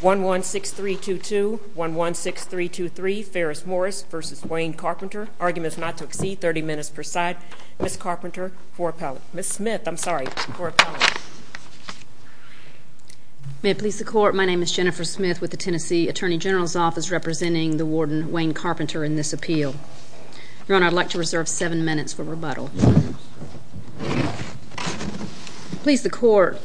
1-1-6-3-2-2, 1-1-6-3-2-3, Ferris Morris v. Wayne Carpenter Argument is not to exceed 30 minutes per side. Ms. Carpenter, for appellate. Ms. Smith, I'm sorry, for appellate. May it please the Court, my name is Jennifer Smith with the Tennessee Attorney General's Office representing the Warden Wayne Carpenter in this appeal. Your Honor, I'd like to reserve 7 minutes for rebuttal. Please the Court.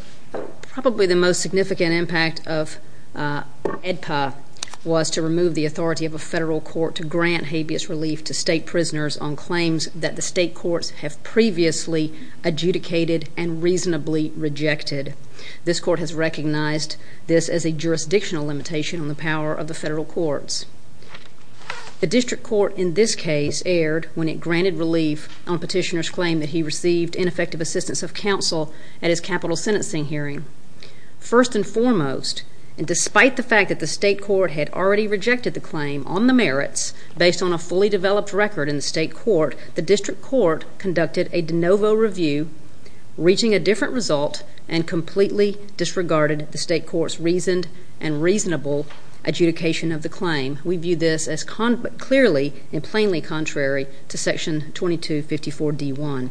Probably the most significant impact of AEDPA was to remove the authority of a federal court to grant habeas relief to state prisoners on claims that the state courts have previously adjudicated and reasonably rejected. This court has recognized this as a jurisdictional limitation on the power of the federal courts. The district court in this case erred when it granted relief on petitioner's claim that he received ineffective assistance of counsel at his capital sentencing hearing. First and foremost, and despite the fact that the state court had already rejected the claim on the merits based on a fully developed record in the state court, the district court conducted a de novo review reaching a different result and completely disregarded the state court's reasoned and reasonable adjudication of the claim. We view this as clearly and plainly contrary to section 2254 D1.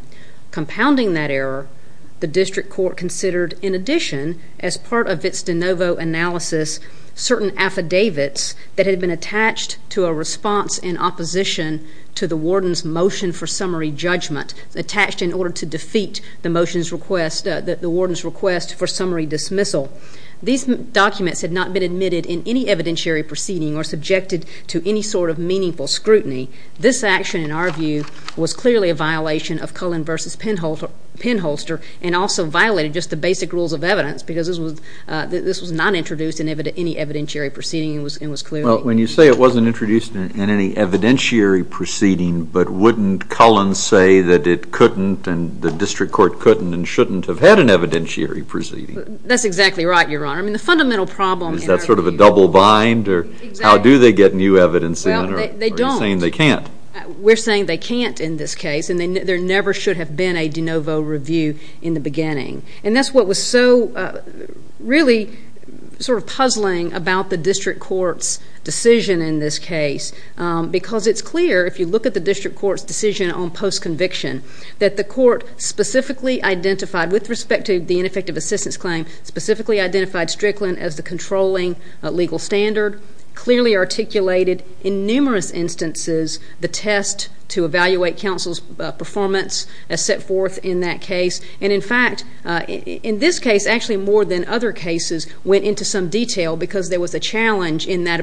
Compounding that error, the district court considered, in addition, as part of its de novo analysis, certain affidavits that had been attached to a response in opposition to the warden's motion for summary judgment, attached in order to defeat the warden's request for summary dismissal. These documents had not been admitted in any evidentiary proceeding or subjected to any sort of meaningful scrutiny. This action, in our view, was clearly a violation of Cullen v. Penholster and also violated just the basic rules of evidence because this was not introduced in any evidentiary proceeding and was clearly... Well, when you say it wasn't introduced in any evidentiary proceeding, but wouldn't Cullen say that it couldn't and the district court couldn't and shouldn't have had an evidentiary proceeding? That's exactly right, Your Honor. I mean, the fundamental problem... Is that sort of a double bind? Exactly. Or how do they get new evidence in? Well, they don't. Or are you saying they can't? We're saying they can't in this case, and there never should have been a de novo review in the beginning. And that's what was so really sort of puzzling about the district court's decision in this case because it's clear, if you look at the district court's decision on post-conviction, that the court specifically identified, with respect to the ineffective assistance claim, specifically identified Strickland as the controlling legal standard, clearly articulated in numerous instances the test to evaluate counsel's performance as set forth in that case, and, in fact, in this case, actually more than other cases, went into some detail because there was a challenge in that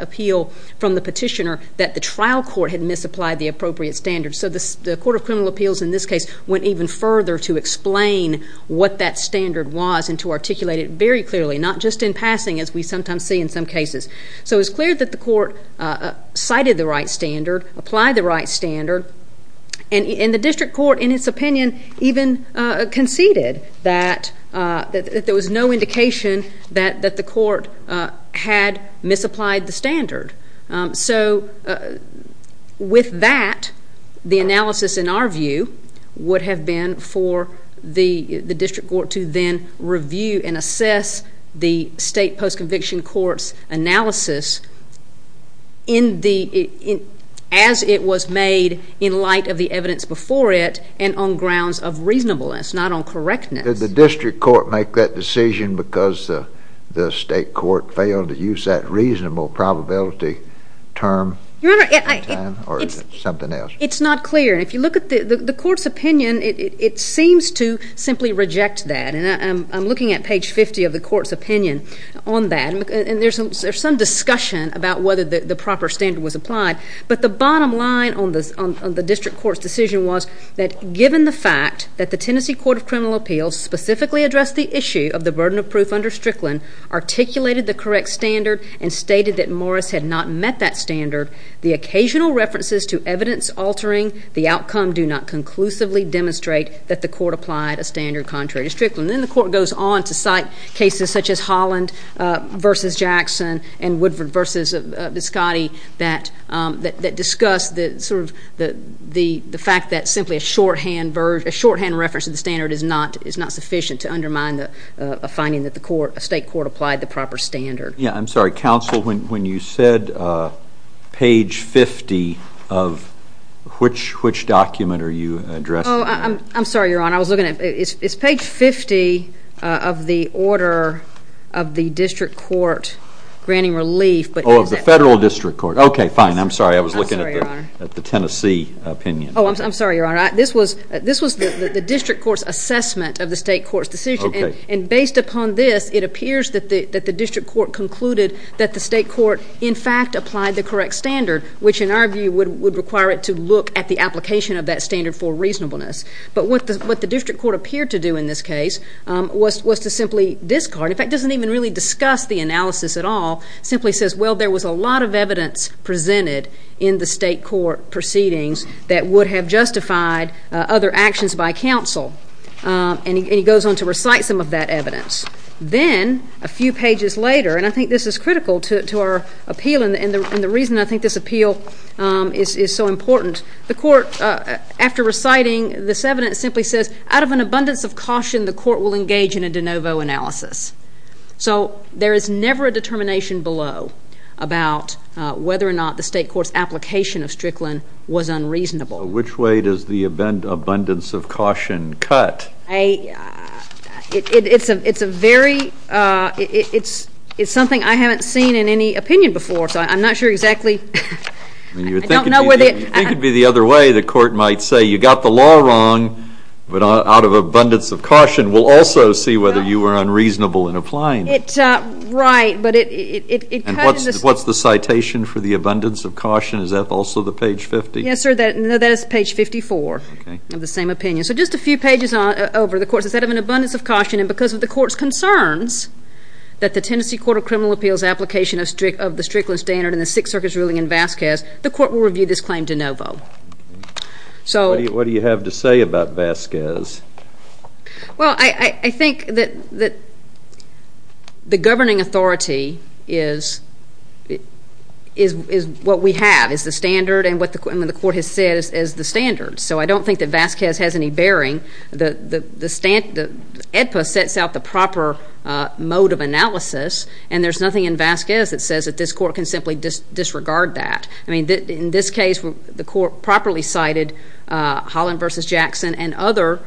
appeal from the petitioner that the trial court had misapplied the appropriate standard. So the Court of Criminal Appeals, in this case, went even further to explain what that standard was and to articulate it very clearly, not just in passing, as we sometimes see in some cases. So it's clear that the court cited the right standard, applied the right standard, and the district court, in its opinion, even conceded that there was no indication that the court had misapplied the standard. So with that, the analysis, in our view, would have been for the district court to then review and assess the state post-conviction court's analysis as it was made in light of the evidence before it and on grounds of reasonableness, not on correctness. Did the district court make that decision because the state court failed to use that reasonable probability term? Your Honor, it's not clear. And if you look at the court's opinion, it seems to simply reject that. And I'm looking at page 50 of the court's opinion on that. And there's some discussion about whether the proper standard was applied. But the bottom line on the district court's decision was that, given the fact that the Tennessee Court of Criminal Appeals specifically addressed the issue of the burden of proof under Strickland, articulated the correct standard, and stated that Morris had not met that standard, the occasional references to evidence altering the outcome do not conclusively demonstrate that the court applied a standard contrary to Strickland. Then the court goes on to cite cases such as Holland v. Jackson and Woodford v. Biscotti that discuss the fact that simply a shorthand reference to the standard is not sufficient to undermine a finding that the state court applied the proper standard. Yeah, I'm sorry. Counsel, when you said page 50 of which document are you addressing that? Oh, I'm sorry, Your Honor. It's page 50 of the order of the district court granting relief. Oh, of the federal district court. Okay, fine. I'm sorry. I was looking at the Tennessee opinion. Oh, I'm sorry, Your Honor. This was the district court's assessment of the state court's decision. And based upon this, it appears that the district court concluded that the state court in fact applied the correct standard, which in our view would require it to look at the application of that standard for reasonableness. But what the district court appeared to do in this case was to simply discard. In fact, it doesn't even really discuss the analysis at all. It simply says, well, there was a lot of evidence presented in the state court proceedings that would have justified other actions by counsel. And he goes on to recite some of that evidence. Then a few pages later, and I think this is critical to our appeal and the reason I think this appeal is so important, the court, after reciting this evidence, simply says, out of an abundance of caution, the court will engage in a de novo analysis. So there is never a determination below about whether or not the state court's application of Strickland was unreasonable. So which way does the abundance of caution cut? It's something I haven't seen in any opinion before, so I'm not sure exactly. You think it would be the other way. The court might say, you got the law wrong, but out of abundance of caution. We'll also see whether you were unreasonable in applying it. Right. What's the citation for the abundance of caution? Is that also the page 50? Yes, sir, that is page 54 of the same opinion. So just a few pages over, the court says, out of an abundance of caution, and because of the court's concerns that the Tennessee Court of Criminal Appeals application of the Strickland standard and the Sixth Circuit's ruling in Vasquez, the court will review this claim de novo. What do you have to say about Vasquez? Well, I think that the governing authority is what we have, is the standard, and what the court has said is the standard. So I don't think that Vasquez has any bearing. The EDPA sets out the proper mode of analysis, and there's nothing in Vasquez that says that this court can simply disregard that. I mean, in this case, the court properly cited Holland v. Jackson and other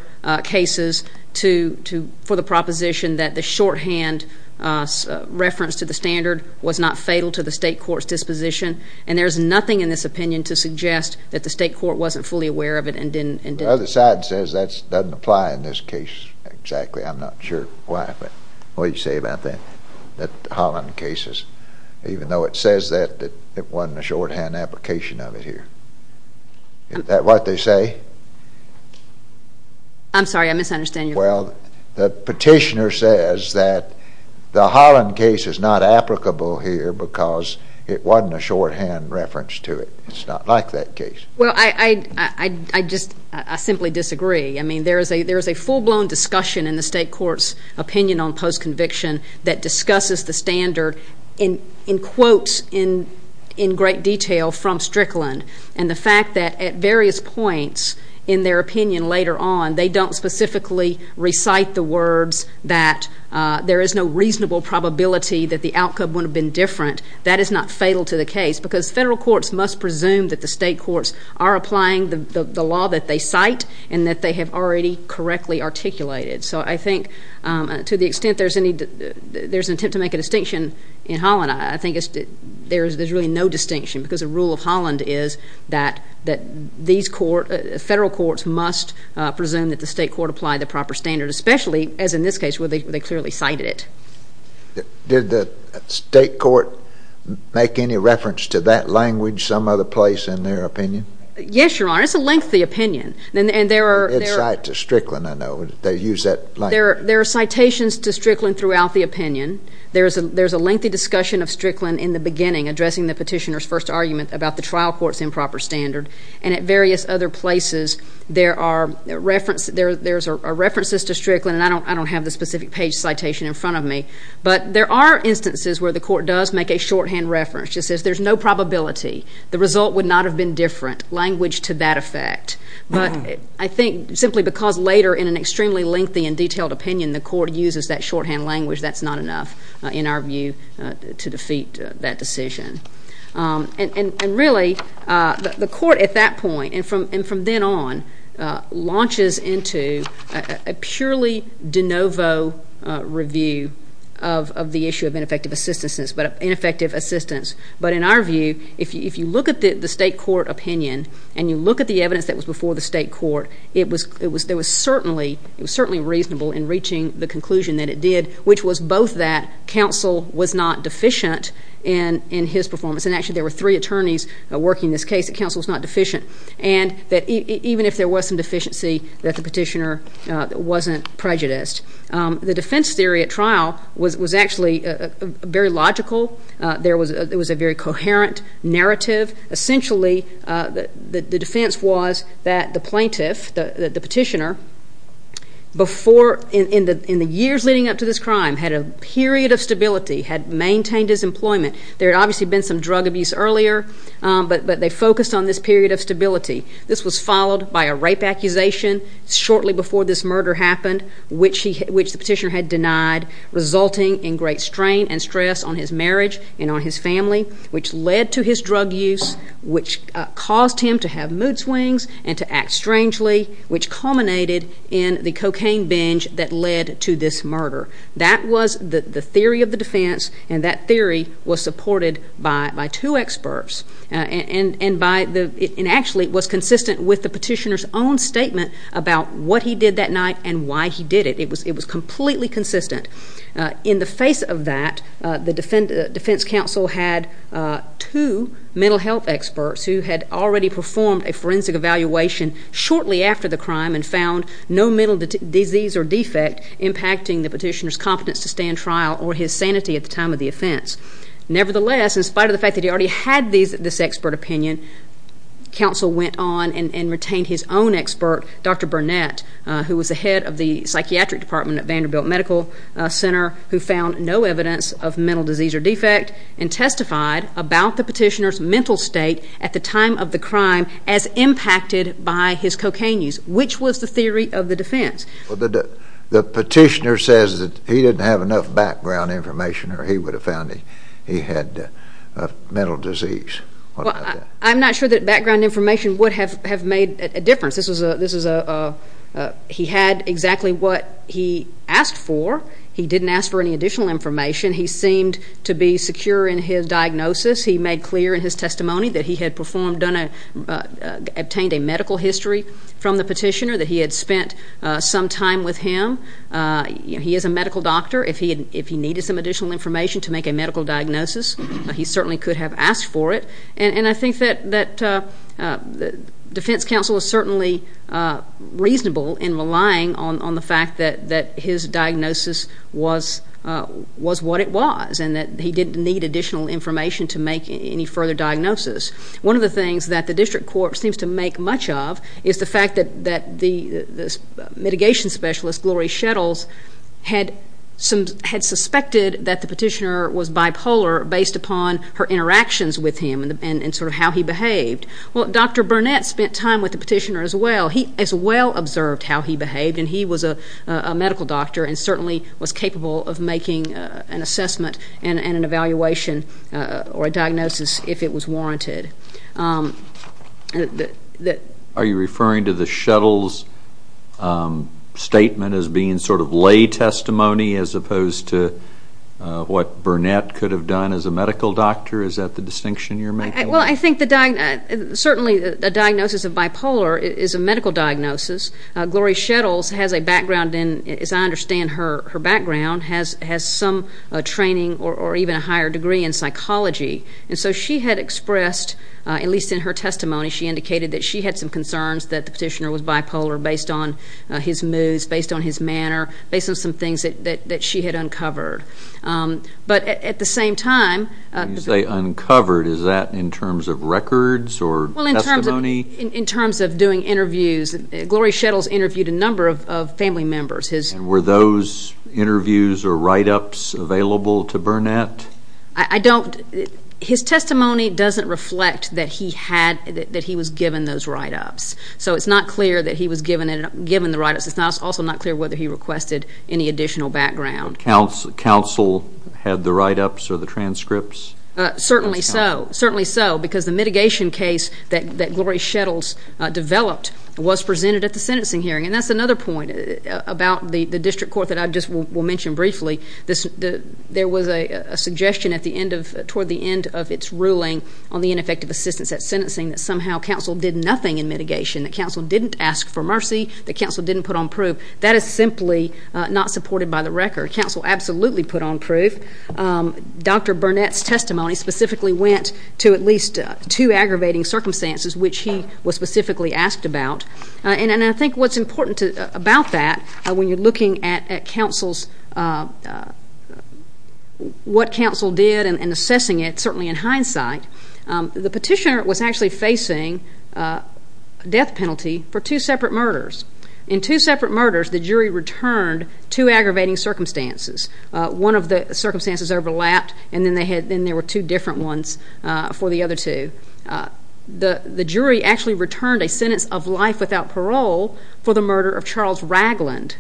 cases for the proposition that the shorthand reference to the standard was not fatal to the state court's disposition, and there's nothing in this opinion to suggest that the state court wasn't fully aware of it and didn't. The other side says that doesn't apply in this case exactly. I'm not sure why, but what do you say about the Holland cases, even though it says that it wasn't a shorthand application of it here? Is that what they say? I'm sorry, I misunderstand you. Well, the petitioner says that the Holland case is not applicable here because it wasn't a shorthand reference to it. It's not like that case. Well, I just simply disagree. I mean, there is a full-blown discussion in the state court's opinion on postconviction that discusses the standard in quotes in great detail from Strickland, and the fact that at various points in their opinion later on, they don't specifically recite the words that there is no reasonable probability that the outcome would have been different, that is not fatal to the case because federal courts must presume that the state courts are applying the law that they cite and that they have already correctly articulated. So I think to the extent there's an attempt to make a distinction in Holland, I think there's really no distinction because the rule of Holland is that these courts, federal courts must presume that the state court applied the proper standard, especially as in this case where they clearly cited it. Did the state court make any reference to that language some other place in their opinion? Yes, Your Honor. It's a lengthy opinion, and there are... They cite to Strickland, I know. They use that language. There are citations to Strickland throughout the opinion. There's a lengthy discussion of Strickland in the beginning, addressing the petitioner's first argument about the trial court's improper standard, and at various other places there are references to Strickland, and I don't have the specific page citation in front of me, but there are instances where the court does make a shorthand reference. It says there's no probability. The result would not have been different, language to that effect. But I think simply because later in an extremely lengthy and detailed opinion, the court uses that shorthand language, that's not enough in our view to defeat that decision. And really, the court at that point, and from then on, launches into a purely de novo review of the issue of ineffective assistance. But in our view, if you look at the state court opinion, and you look at the evidence that was before the state court, it was certainly reasonable in reaching the conclusion that it did, which was both that counsel was not deficient in his performance, and actually there were three attorneys working this case, that counsel was not deficient, and that even if there was some deficiency, that the petitioner wasn't prejudiced. The defense theory at trial was actually very logical. There was a very coherent narrative. Essentially, the defense was that the plaintiff, the petitioner, in the years leading up to this crime, had a period of stability, had maintained his employment. There had obviously been some drug abuse earlier, but they focused on this period of stability. This was followed by a rape accusation shortly before this murder happened, which the petitioner had denied, resulting in great strain and stress on his marriage and on his family, which led to his drug use, which caused him to have mood swings and to act strangely, which culminated in the cocaine binge that led to this murder. That was the theory of the defense, and that theory was supported by two experts, and actually was consistent with the petitioner's own statement about what he did that night and why he did it. It was completely consistent. In the face of that, the defense counsel had two mental health experts who had already performed a forensic evaluation shortly after the crime and found no mental disease or defect impacting the petitioner's competence to stand trial or his sanity at the time of the offense. Nevertheless, in spite of the fact that he already had this expert opinion, counsel went on and retained his own expert, Dr. Burnett, who was the head of the psychiatric department at Vanderbilt Medical Center, who found no evidence of mental disease or defect and testified about the petitioner's mental state at the time of the crime as impacted by his cocaine use, which was the theory of the defense. Well, the petitioner says that he didn't have enough background information or he would have found that he had mental disease. Well, I'm not sure that background information would have made a difference. This was a... he had exactly what he asked for. He didn't ask for any additional information. He seemed to be secure in his diagnosis. He made clear in his testimony that he had obtained a medical history from the petitioner, that he had spent some time with him. He is a medical doctor. If he needed some additional information to make a medical diagnosis, he certainly could have asked for it. And I think that defense counsel is certainly reasonable in relying on the fact that his diagnosis was what it was and that he didn't need additional information to make any further diagnosis. One of the things that the district court seems to make much of is the fact that the mitigation specialist, Gloria Shettles, had suspected that the petitioner was bipolar based upon her interactions with him and sort of how he behaved. Well, Dr. Burnett spent time with the petitioner as well. He as well observed how he behaved, and he was a medical doctor and certainly was capable of making an assessment and an evaluation or a diagnosis if it was warranted. Are you referring to the Shettles' statement as being sort of lay testimony as opposed to what Burnett could have done as a medical doctor? Is that the distinction you're making? Well, I think certainly a diagnosis of bipolar is a medical diagnosis. Gloria Shettles has a background in, as I understand her background, has some training or even a higher degree in psychology. And so she had expressed, at least in her testimony, she indicated that she had some concerns that the petitioner was bipolar based on his moods, based on his manner, based on some things that she had uncovered. But at the same time, When you say uncovered, is that in terms of records or testimony? Well, in terms of doing interviews, Gloria Shettles interviewed a number of family members. And were those interviews or write-ups available to Burnett? I don't. His testimony doesn't reflect that he was given those write-ups. So it's not clear that he was given the write-ups. It's also not clear whether he requested any additional background. Counsel had the write-ups or the transcripts? Certainly so. Certainly so because the mitigation case that Gloria Shettles developed was presented at the sentencing hearing. And that's another point about the district court that I just will mention briefly. There was a suggestion toward the end of its ruling on the ineffective assistance at sentencing that somehow counsel did nothing in mitigation, that counsel didn't ask for mercy, that counsel didn't put on proof. That is simply not supported by the record. Counsel absolutely put on proof. Dr. Burnett's testimony specifically went to at least two aggravating circumstances, which he was specifically asked about. And I think what's important about that when you're looking at what counsel did and assessing it, certainly in hindsight, the petitioner was actually facing a death penalty for two separate murders. In two separate murders, the jury returned two aggravating circumstances. One of the circumstances overlapped, and then there were two different ones for the other two. The jury actually returned a sentence of life without parole for the murder of Charles Ragland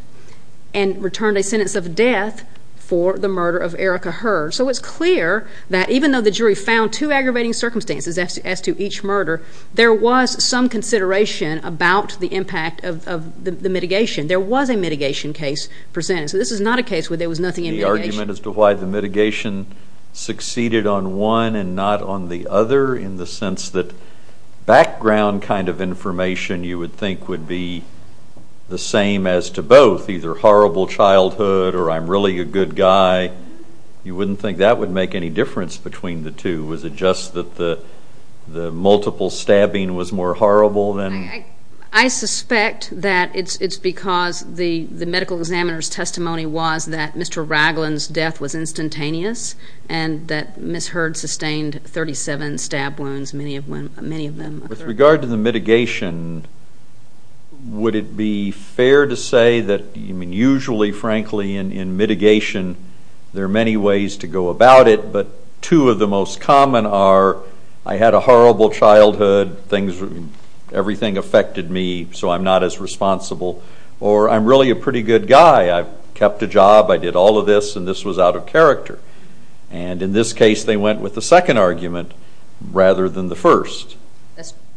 and returned a sentence of death for the murder of Erica Hurd. So it's clear that even though the jury found two aggravating circumstances as to each murder, there was some consideration about the impact of the mitigation. There was a mitigation case presented. So this is not a case where there was nothing in mitigation. Could you comment as to why the mitigation succeeded on one and not on the other, in the sense that background kind of information you would think would be the same as to both, either horrible childhood or I'm really a good guy? You wouldn't think that would make any difference between the two. Was it just that the multiple stabbing was more horrible than? I suspect that it's because the medical examiner's testimony was that Mr. Ragland's death was instantaneous and that Ms. Hurd sustained 37 stab wounds, many of them. With regard to the mitigation, would it be fair to say that usually, frankly, in mitigation, there are many ways to go about it, but two of the most common are I had a horrible childhood, everything affected me, so I'm not as responsible, or I'm really a pretty good guy. I've kept a job, I did all of this, and this was out of character. And in this case, they went with the second argument rather than the first.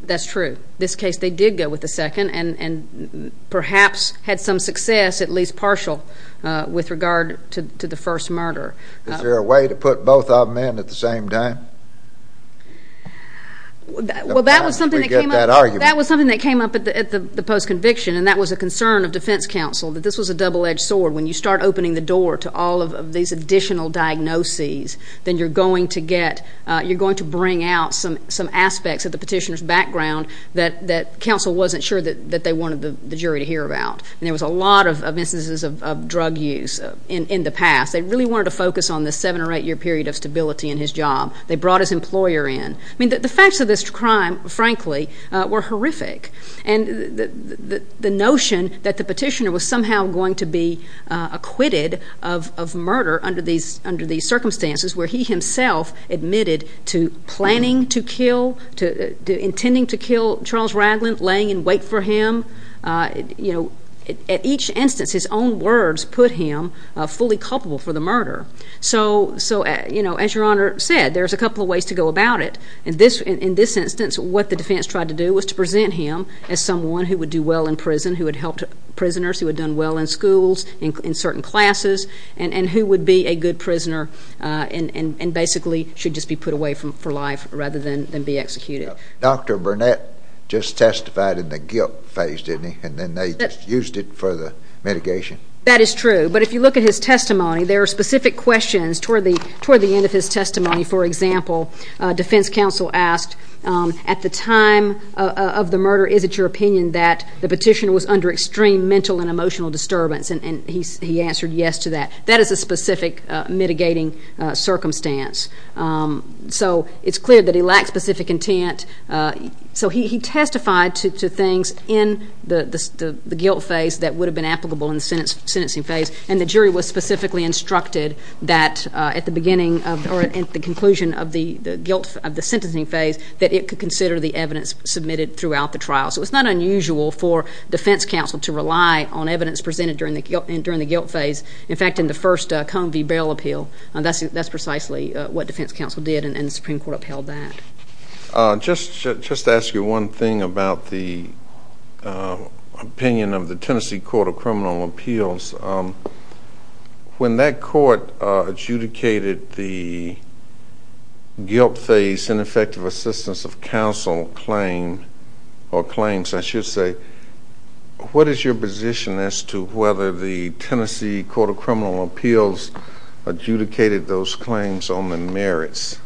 That's true. In this case, they did go with the second and perhaps had some success, at least partial, with regard to the first murder. Is there a way to put both of them in at the same time? Well, that was something that came up at the post-conviction, and that was a concern of defense counsel, that this was a double-edged sword. When you start opening the door to all of these additional diagnoses, then you're going to get, you're going to bring out some aspects of the petitioner's background that counsel wasn't sure that they wanted the jury to hear about. And there was a lot of instances of drug use in the past. They really wanted to focus on the seven- or eight-year period of stability in his job. They brought his employer in. I mean, the facts of this crime, frankly, were horrific. And the notion that the petitioner was somehow going to be acquitted of murder under these circumstances where he himself admitted to planning to kill, intending to kill Charles Ragland, laying in wait for him, at each instance, his own words put him fully culpable for the murder. So, you know, as Your Honor said, there's a couple of ways to go about it. In this instance, what the defense tried to do was to present him as someone who would do well in prison, who had helped prisoners, who had done well in schools, in certain classes, and who would be a good prisoner and basically should just be put away for life rather than be executed. Dr. Burnett just testified in the guilt phase, didn't he? And then they just used it for the mitigation. That is true. But if you look at his testimony, there are specific questions toward the end of his testimony. For example, defense counsel asked, at the time of the murder, is it your opinion that the petitioner was under extreme mental and emotional disturbance? And he answered yes to that. That is a specific mitigating circumstance. So it's clear that he lacked specific intent. So he testified to things in the guilt phase that would have been applicable in the sentencing phase, and the jury was specifically instructed that at the beginning or at the conclusion of the sentencing phase that it could consider the evidence submitted throughout the trial. So it's not unusual for defense counsel to rely on evidence presented during the guilt phase. In fact, in the first Cone v. Beryl appeal, that's precisely what defense counsel did, and the Supreme Court upheld that. Just to ask you one thing about the opinion of the Tennessee Court of Criminal Appeals. When that court adjudicated the guilt phase ineffective assistance of counsel claim or claims, I should say, what is your position as to whether the Tennessee Court of Criminal Appeals adjudicated those claims on the merits?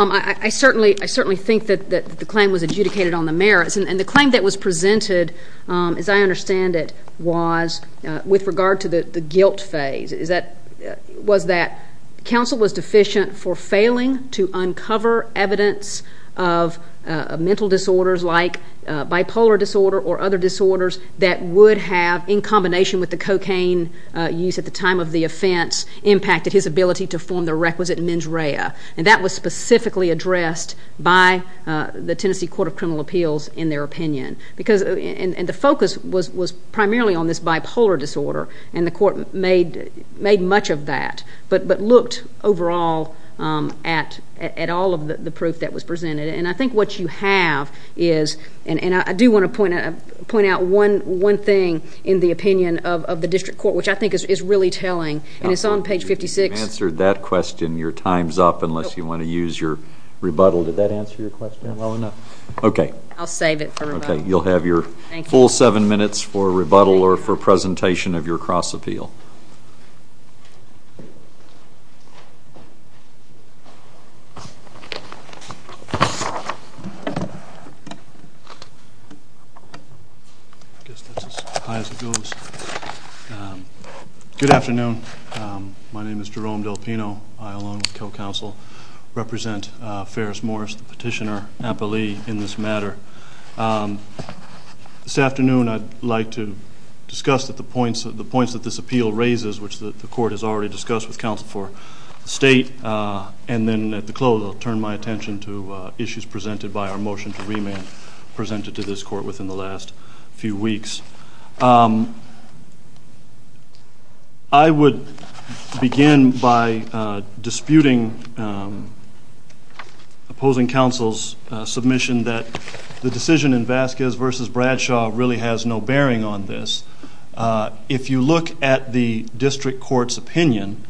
I certainly think that the claim was adjudicated on the merits, and the claim that was presented, as I understand it, was with regard to the guilt phase. Was that counsel was deficient for failing to uncover evidence of mental disorders like bipolar disorder or other disorders that would have, in combination with the cocaine use at the time of the offense, impacted his ability to form the requisite mens rea. And that was specifically addressed by the Tennessee Court of Criminal Appeals in their opinion. And the focus was primarily on this bipolar disorder, and the court made much of that, but looked overall at all of the proof that was presented. And I think what you have is, and I do want to point out one thing in the opinion of the district court, which I think is really telling, and it's on page 56. You've answered that question. Your time's up unless you want to use your rebuttal. Did that answer your question well enough? I'll save it for rebuttal. Okay. You'll have your full seven minutes for rebuttal or for presentation of your cross-appeal. I guess that's as high as it goes. Good afternoon. My name is Jerome Del Pino. I, along with co-counsel, represent Ferris-Morris, the petitioner appellee in this matter. This afternoon I'd like to discuss the points that this appeal raises, which the court has already discussed with counsel for the state, and then at the close I'll turn my attention to issues presented by our motion to remand, I would begin by disputing opposing counsel's submission that the decision in Vasquez v. Bradshaw really has no bearing on this. If you look at the district court's opinion,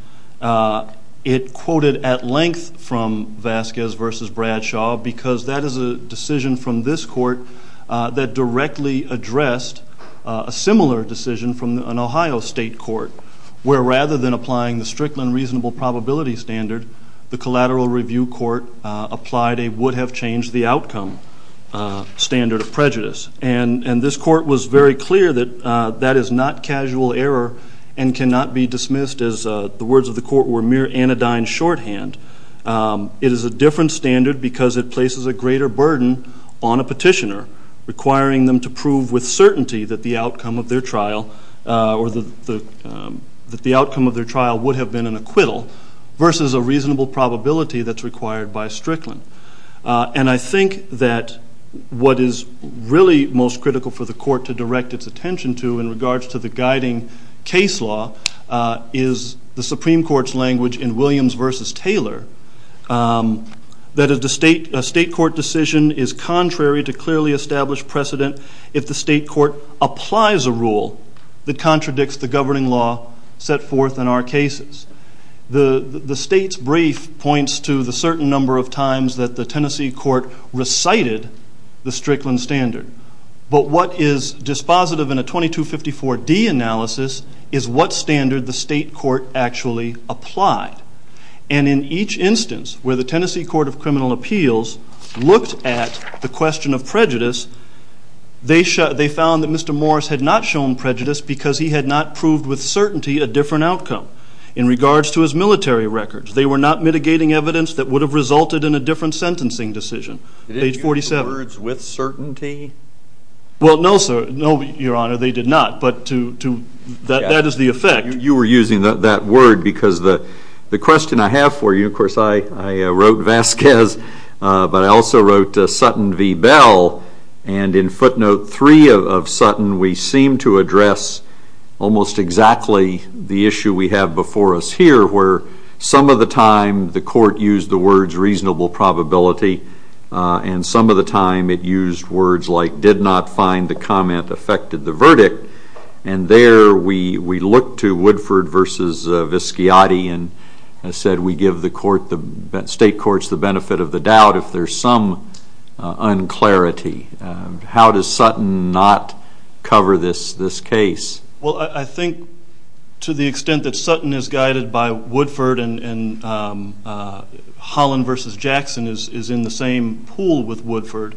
it quoted at length from Vasquez v. Bradshaw because that is a decision from this court that directly addressed a similar decision from an Ohio state court, where rather than applying the strict and reasonable probability standard, the collateral review court applied a would-have-changed-the-outcome standard of prejudice. And this court was very clear that that is not casual error and cannot be dismissed as the words of the court were mere anodyne shorthand. It is a different standard because it places a greater burden on a petitioner, requiring them to prove with certainty that the outcome of their trial would have been an acquittal versus a reasonable probability that's required by Strickland. And I think that what is really most critical for the court to direct its attention to in regards to the guiding case law is the Supreme Court's language in Williams v. Taylor that a state court decision is contrary to clearly established precedent if the state court applies a rule that contradicts the governing law set forth in our cases. The state's brief points to the certain number of times that the Tennessee court recited the Strickland standard. But what is dispositive in a 2254D analysis is what standard the state court actually applied. And in each instance where the Tennessee Court of Criminal Appeals looked at the question of prejudice, they found that Mr. Morris had not shown prejudice because he had not proved with certainty a different outcome. In regards to his military records, they were not mitigating evidence that would have resulted in a different sentencing decision. Page 47. Did they use the words with certainty? Well, no, sir. No, Your Honor, they did not. But that is the effect. You were using that word because the question I have for you, of course, I wrote Vasquez, but I also wrote Sutton v. Bell. And in footnote three of Sutton, we seem to address almost exactly the issue we have before us here where some of the time the court used the words reasonable probability and some of the time it used words like did not find the comment affected the verdict. And there we look to Woodford v. Visciati and said we give the state courts the benefit of the doubt if there's some unclarity. How does Sutton not cover this case? Well, I think to the extent that Sutton is guided by Woodford and Holland v. Jackson is in the same pool with Woodford,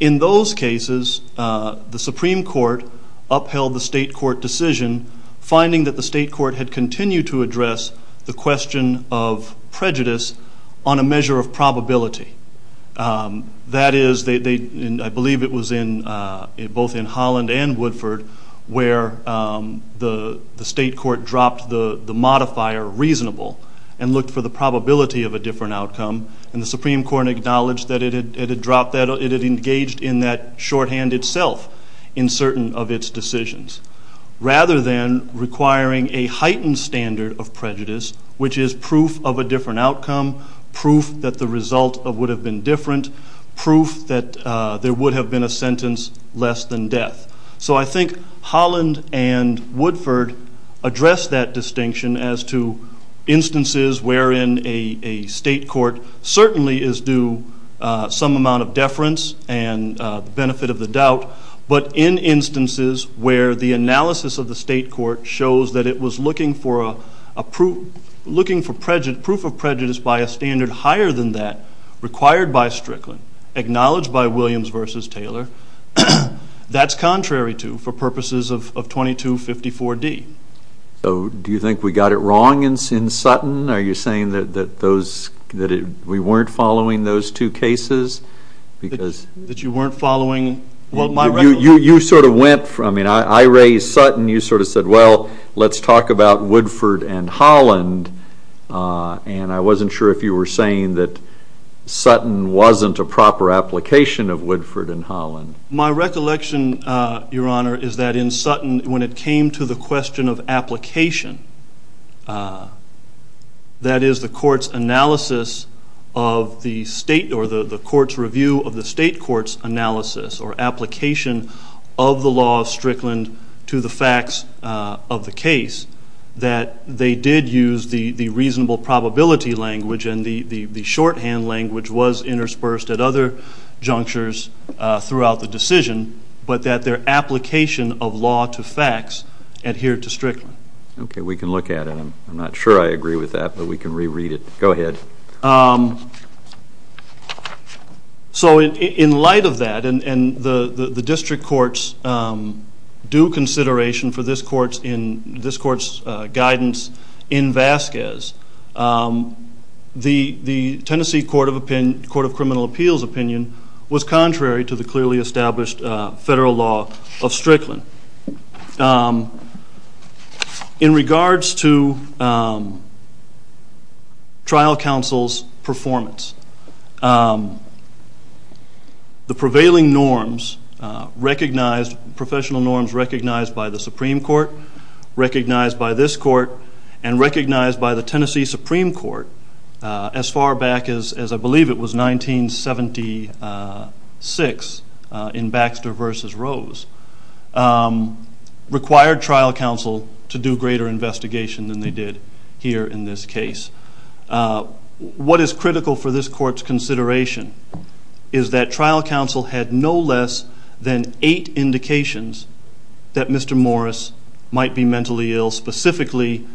in those cases the Supreme Court upheld the state court decision, finding that the state court had continued to address the question of prejudice on a measure of probability. That is, I believe it was both in Holland and Woodford where the state court dropped the modifier reasonable and looked for the probability of a different outcome and the Supreme Court acknowledged that it had engaged in that shorthand itself in certain of its decisions. Rather than requiring a heightened standard of prejudice, which is proof of a different outcome, proof that the result would have been different, proof that there would have been a sentence less than death. So I think Holland and Woodford addressed that distinction as to instances wherein a state court certainly is due some amount of deference and the benefit of the doubt, but in instances where the analysis of the state court shows that it was looking for proof of prejudice by a standard higher than that required by Strickland, acknowledged by Williams v. Taylor, that's contrary to for purposes of 2254D. So do you think we got it wrong in Sutton? Are you saying that we weren't following those two cases? That you weren't following? You sort of went from, I mean, I raised Sutton, you sort of said, well, let's talk about Woodford and Holland, and I wasn't sure if you were saying that Sutton wasn't a proper application of Woodford and Holland. My recollection, Your Honor, is that in Sutton, when it came to the question of application, that is the court's analysis of the state or the court's review of the state court's analysis or application of the law of Strickland to the facts of the case, that they did use the reasonable probability language and the shorthand language was interspersed at other junctures throughout the decision, but that their application of law to facts adhered to Strickland. Okay, we can look at it. I'm not sure I agree with that, but we can reread it. Go ahead. So in light of that, and the district courts do consideration for this court's guidance in Vasquez, the Tennessee Court of Criminal Appeals opinion was contrary to the clearly established federal law of Strickland. In regards to trial counsel's performance, the prevailing norms recognized, professional norms recognized by the Supreme Court, recognized by this court, and recognized by the Tennessee Supreme Court, as far back as I believe it was 1976 in Baxter v. Rose, required trial counsel to do greater investigation than they did here in this case. What is critical for this court's consideration is that trial counsel had no less than eight indications that Mr. Morris might be mentally ill, specifically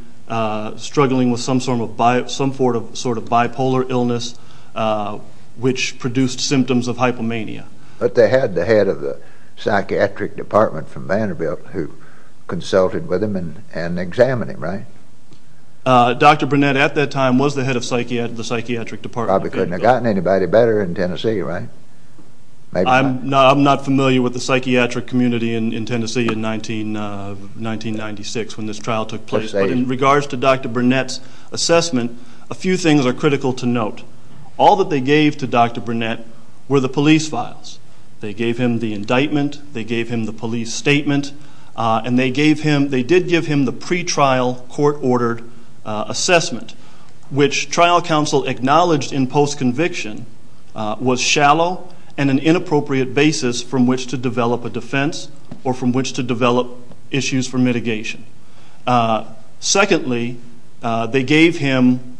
struggling with some sort of bipolar illness which produced symptoms of hypomania. But they had the head of the psychiatric department from Vanderbilt who consulted with him and examined him, right? Dr. Burnett at that time was the head of the psychiatric department. Probably couldn't have gotten anybody better in Tennessee, right? I'm not familiar with the psychiatric community in Tennessee in 1996 when this trial took place. But in regards to Dr. Burnett's assessment, a few things are critical to note. All that they gave to Dr. Burnett were the police files. They gave him the indictment, they gave him the police statement, and they did give him the pretrial court-ordered assessment, which trial counsel acknowledged in post-conviction was shallow and an inappropriate basis from which to develop a defense or from which to develop issues for mitigation. Secondly, they gave him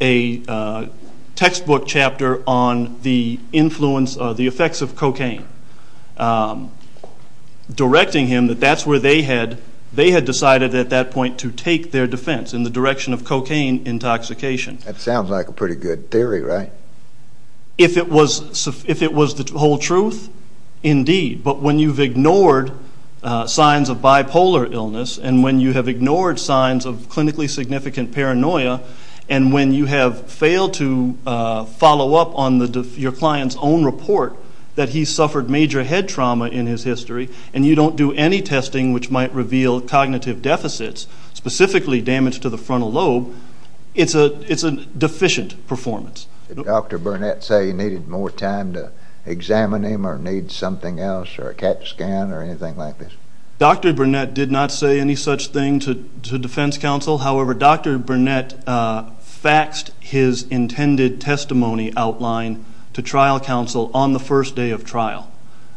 a textbook chapter on the effects of cocaine, directing him that that's where they had decided at that point to take their defense in the direction of cocaine intoxication. That sounds like a pretty good theory, right? If it was the whole truth, indeed. But when you've ignored signs of bipolar illness and when you have ignored signs of clinically significant paranoia and when you have failed to follow up on your client's own report that he suffered major head trauma in his history and you don't do any testing which might reveal cognitive deficits, specifically damage to the frontal lobe, it's a deficient performance. Did Dr. Burnett say he needed more time to examine him or need something else or a CAT scan or anything like this? Dr. Burnett did not say any such thing to defense counsel. However, Dr. Burnett faxed his intended testimony outline to trial counsel on the first day of trial.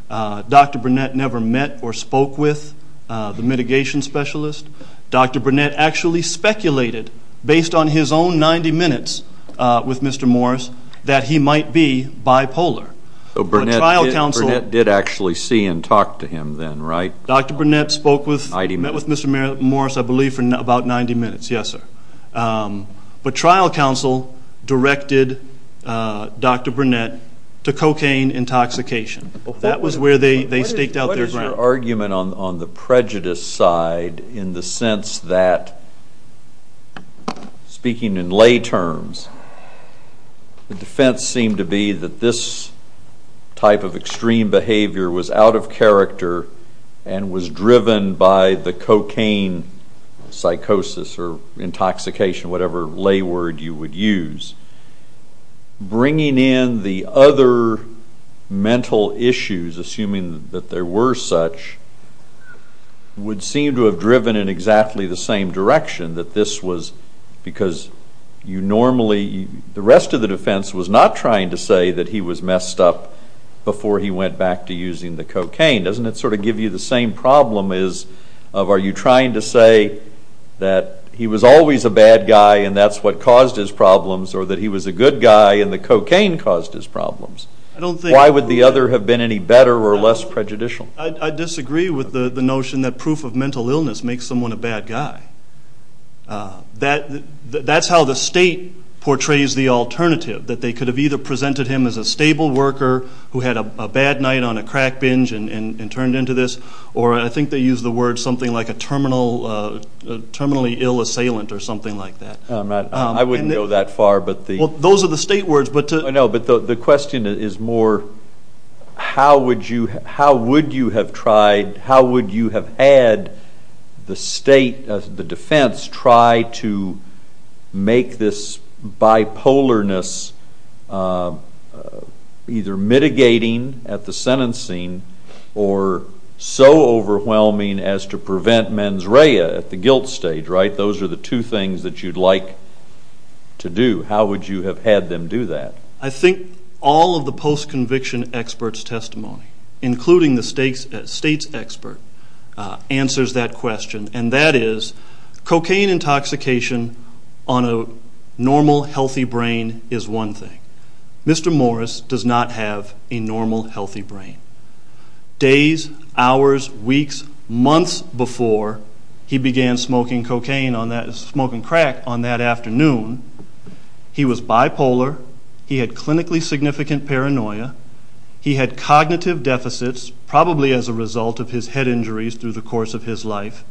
Dr. Burnett never met or spoke with the mitigation specialist. Dr. Burnett actually speculated, based on his own 90 minutes with Mr. Morris, that he might be bipolar. So Burnett did actually see and talk to him then, right? Dr. Burnett met with Mr. Morris, I believe, for about 90 minutes, yes, sir. But trial counsel directed Dr. Burnett to cocaine intoxication. That was where they staked out their ground. Your argument on the prejudice side in the sense that, speaking in lay terms, the defense seemed to be that this type of extreme behavior was out of character and was driven by the cocaine psychosis or intoxication, whatever lay word you would use, bringing in the other mental issues, assuming that there were such, would seem to have driven in exactly the same direction, that this was because you normally, the rest of the defense was not trying to say that he was messed up before he went back to using the cocaine. Doesn't it sort of give you the same problem as of, are you trying to say that he was always a bad guy and that's what caused his problems or that he was a good guy and the cocaine caused his problems? Why would the other have been any better or less prejudicial? I disagree with the notion that proof of mental illness makes someone a bad guy. That's how the state portrays the alternative, that they could have either presented him as a stable worker who had a bad night on a crack binge and turned into this, or I think they used the word something like a terminally ill assailant or something like that. I wouldn't go that far. Those are the state words. The question is more how would you have tried, how would you have had the state, the defense, try to make this bipolarness either mitigating at the sentencing or so overwhelming as to prevent mens rea at the guilt stage. Those are the two things that you'd like to do. How would you have had them do that? I think all of the post-conviction experts' testimony, including the state's expert, answers that question, and that is cocaine intoxication on a normal, healthy brain is one thing. Mr. Morris does not have a normal, healthy brain. Days, hours, weeks, months before he began smoking crack on that afternoon, he was bipolar. He had clinically significant paranoia. He had cognitive deficits, probably as a result of his head injuries through the course of his life,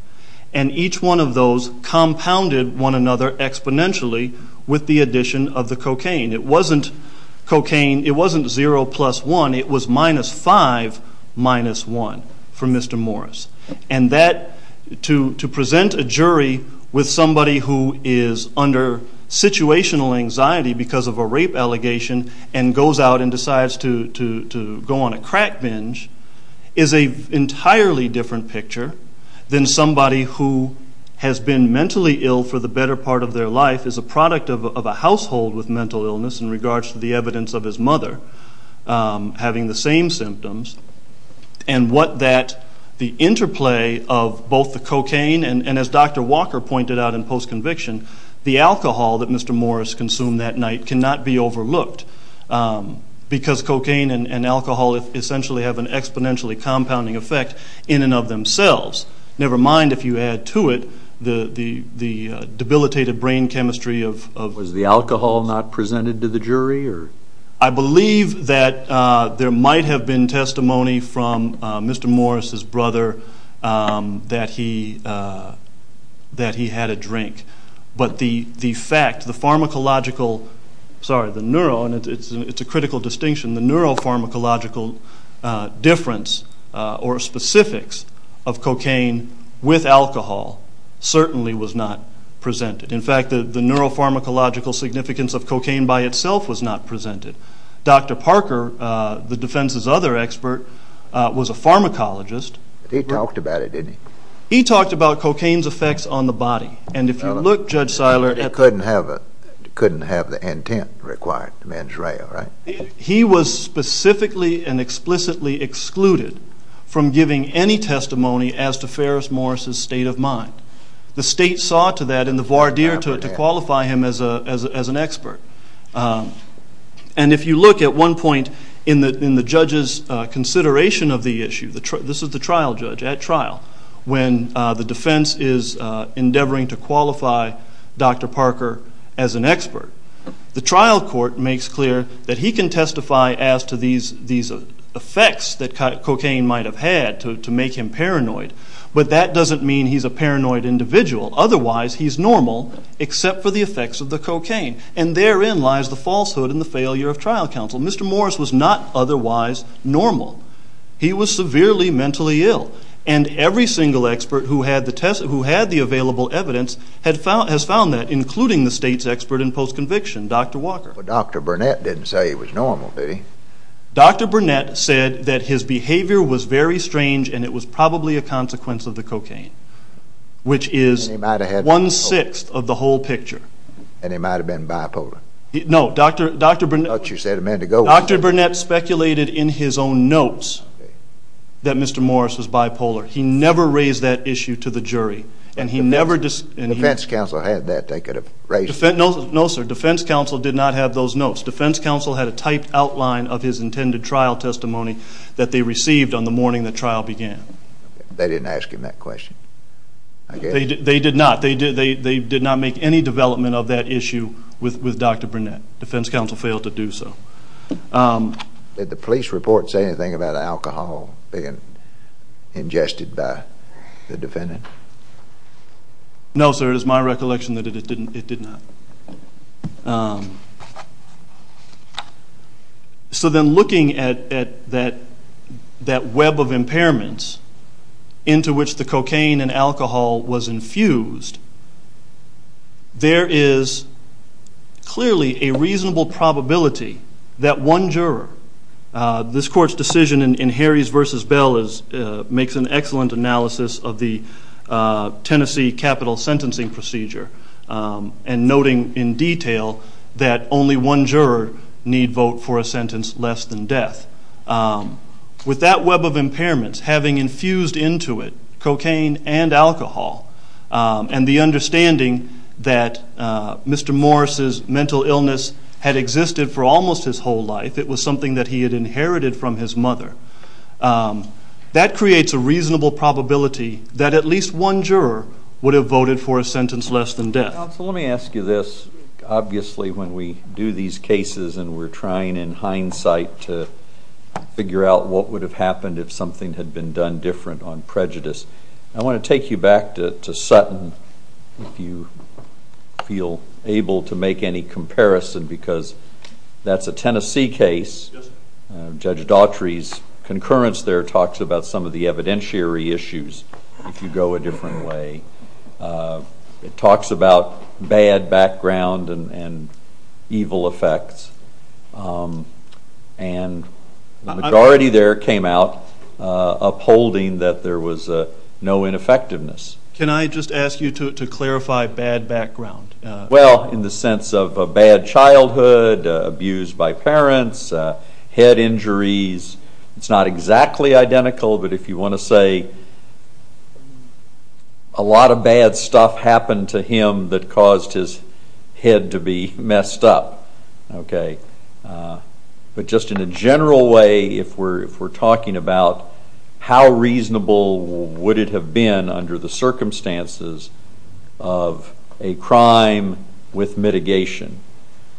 and each one of those compounded one another exponentially with the addition of the cocaine. It wasn't zero plus one. It was minus five minus one for Mr. Morris. And to present a jury with somebody who is under situational anxiety because of a rape allegation and goes out and decides to go on a crack binge is an entirely different picture than somebody who has been mentally ill for the better part of their life, is a product of a household with mental illness in regards to the evidence of his mother having the same symptoms. And the interplay of both the cocaine and, as Dr. Walker pointed out in post-conviction, the alcohol that Mr. Morris consumed that night cannot be overlooked because cocaine and alcohol essentially have an exponentially compounding effect in and of themselves, never mind, if you add to it, the debilitated brain chemistry of... Was the alcohol not presented to the jury? I believe that there might have been testimony from Mr. Morris's brother that he had a drink. But the fact, the pharmacological... Sorry, the neuro, and it's a critical distinction, the neuropharmacological difference or specifics of cocaine with alcohol certainly was not presented. In fact, the neuropharmacological significance of cocaine by itself was not presented. Dr. Parker, the defense's other expert, was a pharmacologist. He talked about it, didn't he? He talked about cocaine's effects on the body. And if you look, Judge Seiler... It couldn't have the antenna required, the mens rea, right? He was specifically and explicitly excluded from giving any testimony as to Ferris Morris's state of mind. The state saw to that and the voir dire to qualify him as an expert. And if you look at one point in the judge's consideration of the issue, this is the trial judge at trial, when the defense is endeavoring to qualify Dr. Parker as an expert, the trial court makes clear that he can testify as to these effects that cocaine might have had to make him paranoid, but that doesn't mean he's a paranoid individual. Otherwise, he's normal, except for the effects of the cocaine. And therein lies the falsehood and the failure of trial counsel. Mr. Morris was not otherwise normal. He was severely mentally ill. And every single expert who had the available evidence has found that, including the state's expert in postconviction, Dr. Walker. But Dr. Burnett didn't say he was normal, did he? Dr. Burnett said that his behavior was very strange and it was probably a consequence of the cocaine, which is one-sixth of the whole picture. And he might have been bipolar. No, Dr. Burnett speculated in his own notes that Mr. Morris was bipolar. He never raised that issue to the jury. The defense counsel had that. No, sir, defense counsel did not have those notes. Defense counsel had a typed outline of his intended trial testimony that they received on the morning the trial began. They didn't ask him that question, I guess. They did not. They did not make any development of that issue with Dr. Burnett. Defense counsel failed to do so. Did the police report say anything about alcohol being ingested by the defendant? No, sir, it is my recollection that it did not. So then looking at that web of impairments into which the cocaine and alcohol was infused, there is clearly a reasonable probability that one juror, this court's decision in Harries v. Bell makes an excellent analysis of the Tennessee capital sentencing procedure and noting in detail that only one juror need vote for a sentence less than death. With that web of impairments having infused into it cocaine and alcohol and the understanding that Mr. Morris' mental illness had existed for almost his whole life, it was something that he had inherited from his mother, that creates a reasonable probability that at least one juror would have voted for a sentence less than death. Counsel, let me ask you this. Obviously when we do these cases and we're trying in hindsight to figure out what would have happened if something had been done different on prejudice, I want to take you back to Sutton if you feel able to make any comparison because that's a Tennessee case. Judge Daughtry's concurrence there talks about some of the evidentiary issues if you go a different way. It talks about bad background and evil effects and the majority there came out upholding that there was no ineffectiveness. Can I just ask you to clarify bad background? Well, in the sense of a bad childhood, abused by parents, head injuries, it's not exactly identical, but if you want to say a lot of bad stuff happened to him that caused his head to be messed up. But just in a general way, if we're talking about how reasonable would it have been under the circumstances of a crime with mitigation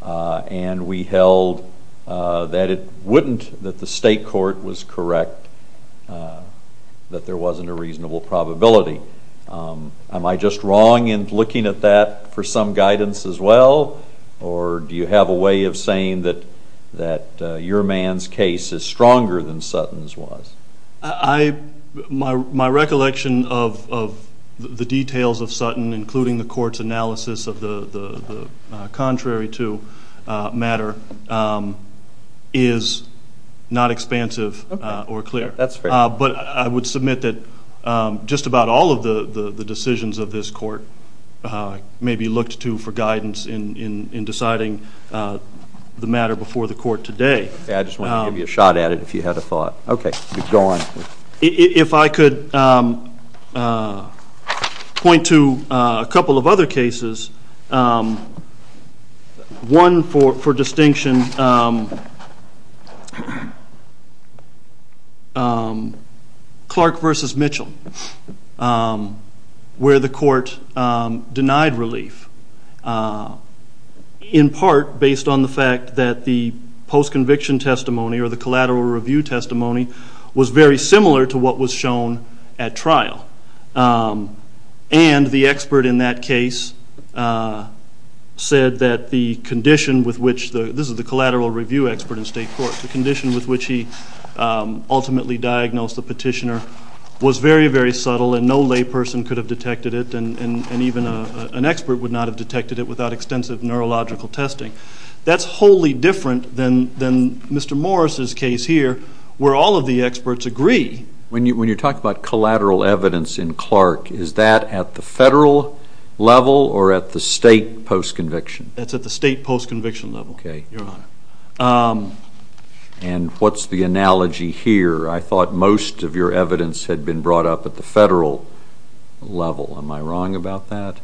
and we held that it wouldn't, that the state court was correct, that there wasn't a reasonable probability, am I just wrong in looking at that for some guidance as well or do you have a way of saying that your man's case is stronger than Sutton's was? My recollection of the details of Sutton, including the court's analysis of the contrary to matter, is not expansive or clear. That's fair. But I would submit that just about all of the decisions of this court may be looked to for guidance in deciding the matter before the court today. I just wanted to give you a shot at it if you had a thought. Okay, go on. If I could point to a couple of other cases, one for distinction, Clark v. Mitchell, where the court denied relief, in part based on the fact that the post-conviction testimony or the collateral review testimony was very similar to what was shown at trial and the expert in that case said that the condition with which, this is the collateral review expert in state court, the condition with which he ultimately diagnosed the petitioner was very, very subtle and no lay person could have detected it and even an expert would not have detected it without extensive neurological testing. That's wholly different than Mr. Morris' case here where all of the experts agree. When you talk about collateral evidence in Clark, is that at the federal level or at the state post-conviction? That's at the state post-conviction level, Your Honor. Okay. And what's the analogy here? I thought most of your evidence had been brought up at the federal level. Am I wrong about that?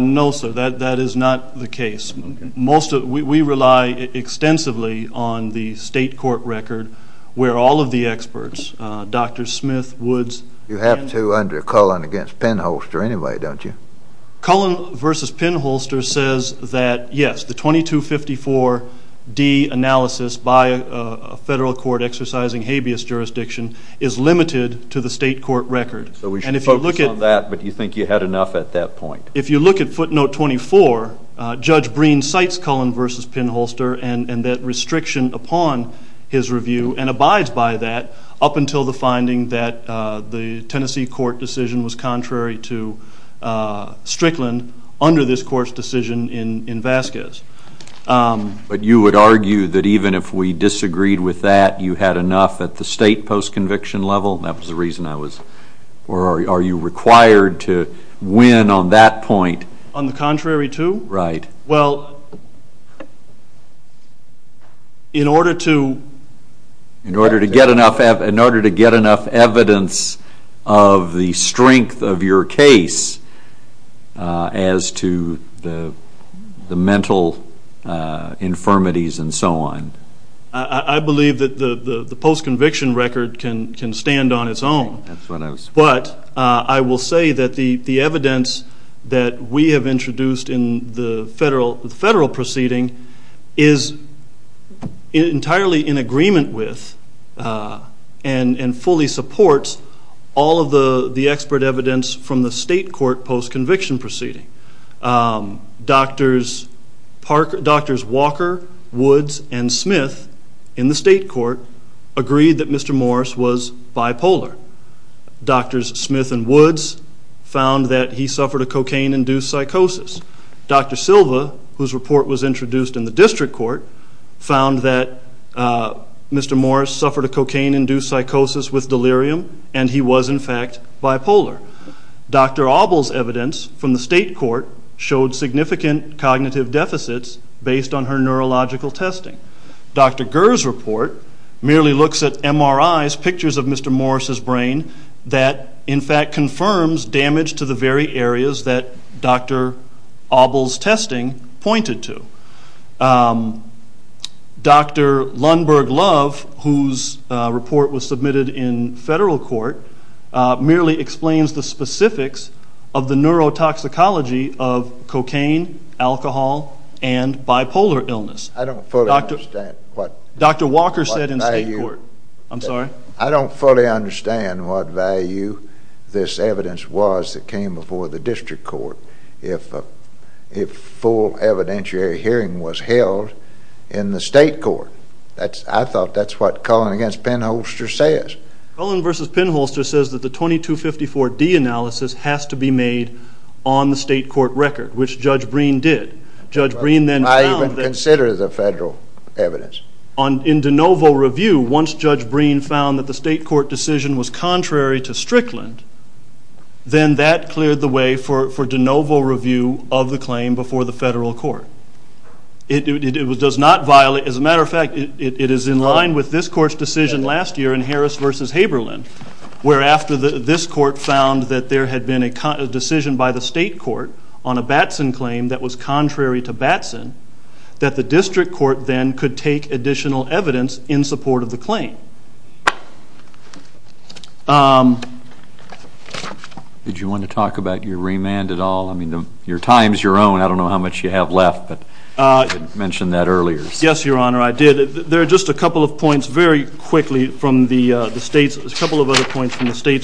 No, sir. That is not the case. We rely extensively on the state court record where all of the experts, Dr. Smith, Woods, You have two under Cullen against Penholster anyway, don't you? Cullen versus Penholster says that, yes, the 2254D analysis by a federal court exercising habeas jurisdiction is limited to the state court record. So we should focus on that, but do you think you had enough at that point? If you look at footnote 24, Judge Breen cites Cullen versus Penholster and that restriction upon his review and abides by that up until the finding that the Tennessee court decision was contrary to Strickland under this court's decision in Vasquez. But you would argue that even if we disagreed with that, you had enough at the state post-conviction level? Or are you required to win on that point? On the contrary to? Right. Well, in order to get enough evidence of the strength of your case as to the mental infirmities and so on? I believe that the post-conviction record can stand on its own. But I will say that the evidence that we have introduced in the federal proceeding is entirely in agreement with and fully supports all of the expert evidence from the state court post-conviction proceeding. Drs. Walker, Woods, and Smith in the state court agreed that Mr. Morris was bipolar. Drs. Smith and Woods found that he suffered a cocaine-induced psychosis. Dr. Silva, whose report was introduced in the district court, found that Mr. Morris suffered a cocaine-induced psychosis with delirium and he was in fact bipolar. Dr. Auble's evidence from the state court showed significant cognitive deficits based on her neurological testing. Dr. Gerr's report merely looks at MRIs, pictures of Mr. Morris's brain, that in fact confirms damage to the very areas that Dr. Auble's testing pointed to. Dr. Lundberg-Love, whose report was submitted in federal court, merely explains the specifics of the neurotoxicology of cocaine, alcohol, and bipolar illness. I don't fully understand what... Dr. Walker said in state court. I'm sorry? I don't fully understand what value this evidence was that came before the district court. if a full evidentiary hearing was held in the state court. I thought that's what Cullen v. Penholster says. Cullen v. Penholster says that the 2254-D analysis has to be made on the state court record, which Judge Breen did. Judge Breen then found that... I even consider the federal evidence. In de novo review, once Judge Breen found that the state court decision was contrary to Strickland, then that cleared the way for de novo review of the claim before the federal court. It does not violate... As a matter of fact, it is in line with this court's decision last year in Harris v. Haberlin, where after this court found that there had been a decision by the state court on a Batson claim that was contrary to Batson, that the district court then could take additional evidence in support of the claim. Thank you. Did you want to talk about your remand at all? I mean, your time is your own. I don't know how much you have left, but you mentioned that earlier. Yes, Your Honor, I did. There are just a couple of points very quickly from the state's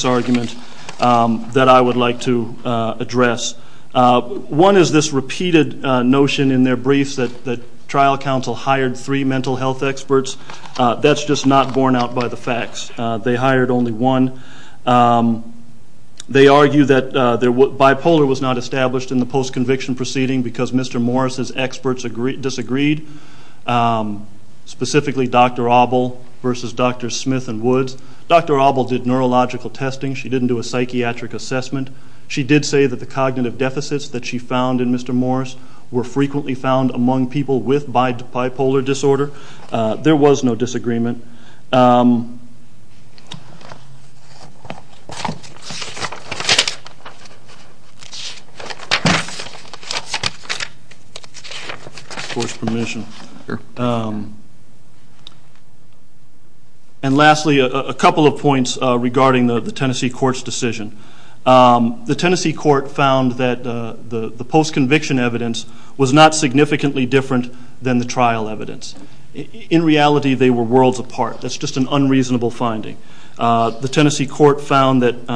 argument that I would like to address. One is this repeated notion in their briefs that trial counsel hired three mental health experts. That's just not borne out by the facts. They hired only one. They argue that bipolar was not established in the post-conviction proceeding because Mr. Morris' experts disagreed, specifically Dr. Abel versus Dr. Smith and Woods. Dr. Abel did neurological testing. She didn't do a psychiatric assessment. She did say that the cognitive deficits that she found in Mr. Morris were frequently found among people with bipolar disorder. There was no disagreement. And lastly, a couple of points regarding the Tennessee court's decision. The Tennessee court found that the post-conviction evidence was not significantly different than the trial evidence. In reality, they were worlds apart. That's just an unreasonable finding. The Tennessee court found that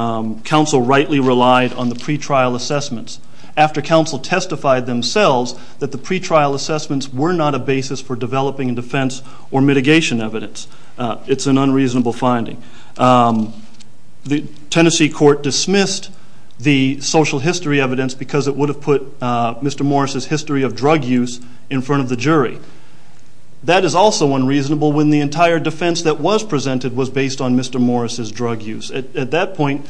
counsel rightly relied on the pretrial assessments. After counsel testified themselves that the pretrial assessments were not a basis for developing defense or mitigation evidence, it's an unreasonable finding. The Tennessee court dismissed the social history evidence because it would have put Mr. Morris' history of drug use in front of the jury. That is also unreasonable when the entire defense that was presented was based on Mr. Morris' drug use. At that point,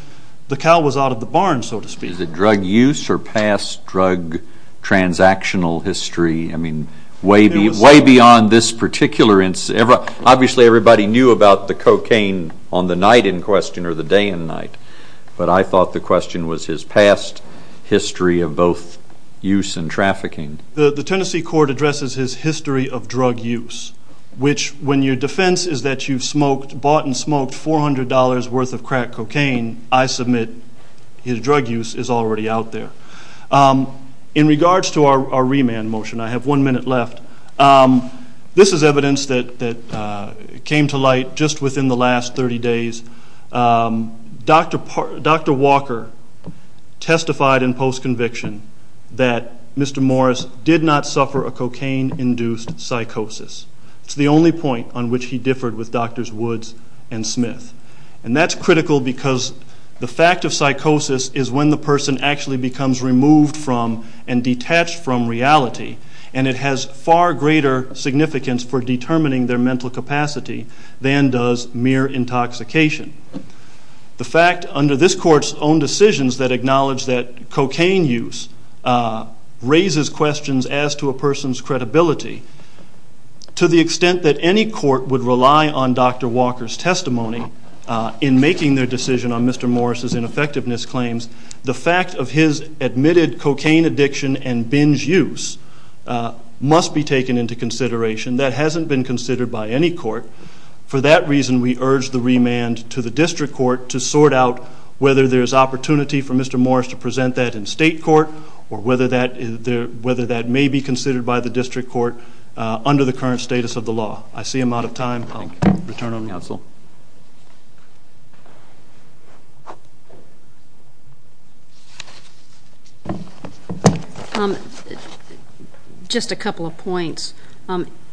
the cow was out of the barn, so to speak. Is it drug use or past drug transactional history? I mean, way beyond this particular instance. Obviously, everybody knew about the cocaine on the night in question or the day and night, but I thought the question was his past history of both use and trafficking. The Tennessee court addresses his history of drug use, which when your defense is that you've bought and smoked $400 worth of crack cocaine, I submit his drug use is already out there. In regards to our remand motion, I have one minute left. This is evidence that came to light just within the last 30 days. Dr. Walker testified in post-conviction that Mr. Morris did not suffer a cocaine-induced psychosis. It's the only point on which he differed with Drs. Woods and Smith. And that's critical because the fact of psychosis is when the person actually becomes removed from and detached from reality, and it has far greater significance for determining their mental capacity than does mere intoxication. The fact under this court's own decisions that acknowledge that cocaine use raises questions as to a person's credibility, to the extent that any court would rely on Dr. Walker's testimony in making their decision on Mr. Morris' ineffectiveness claims, the fact of his admitted cocaine addiction and binge use must be taken into consideration. That hasn't been considered by any court. For that reason, we urge the remand to the district court to sort out whether there's opportunity for Mr. Morris to present that in state court or whether that may be considered by the district court under the current status of the law. I see I'm out of time. I'll return on counsel. Just a couple of points.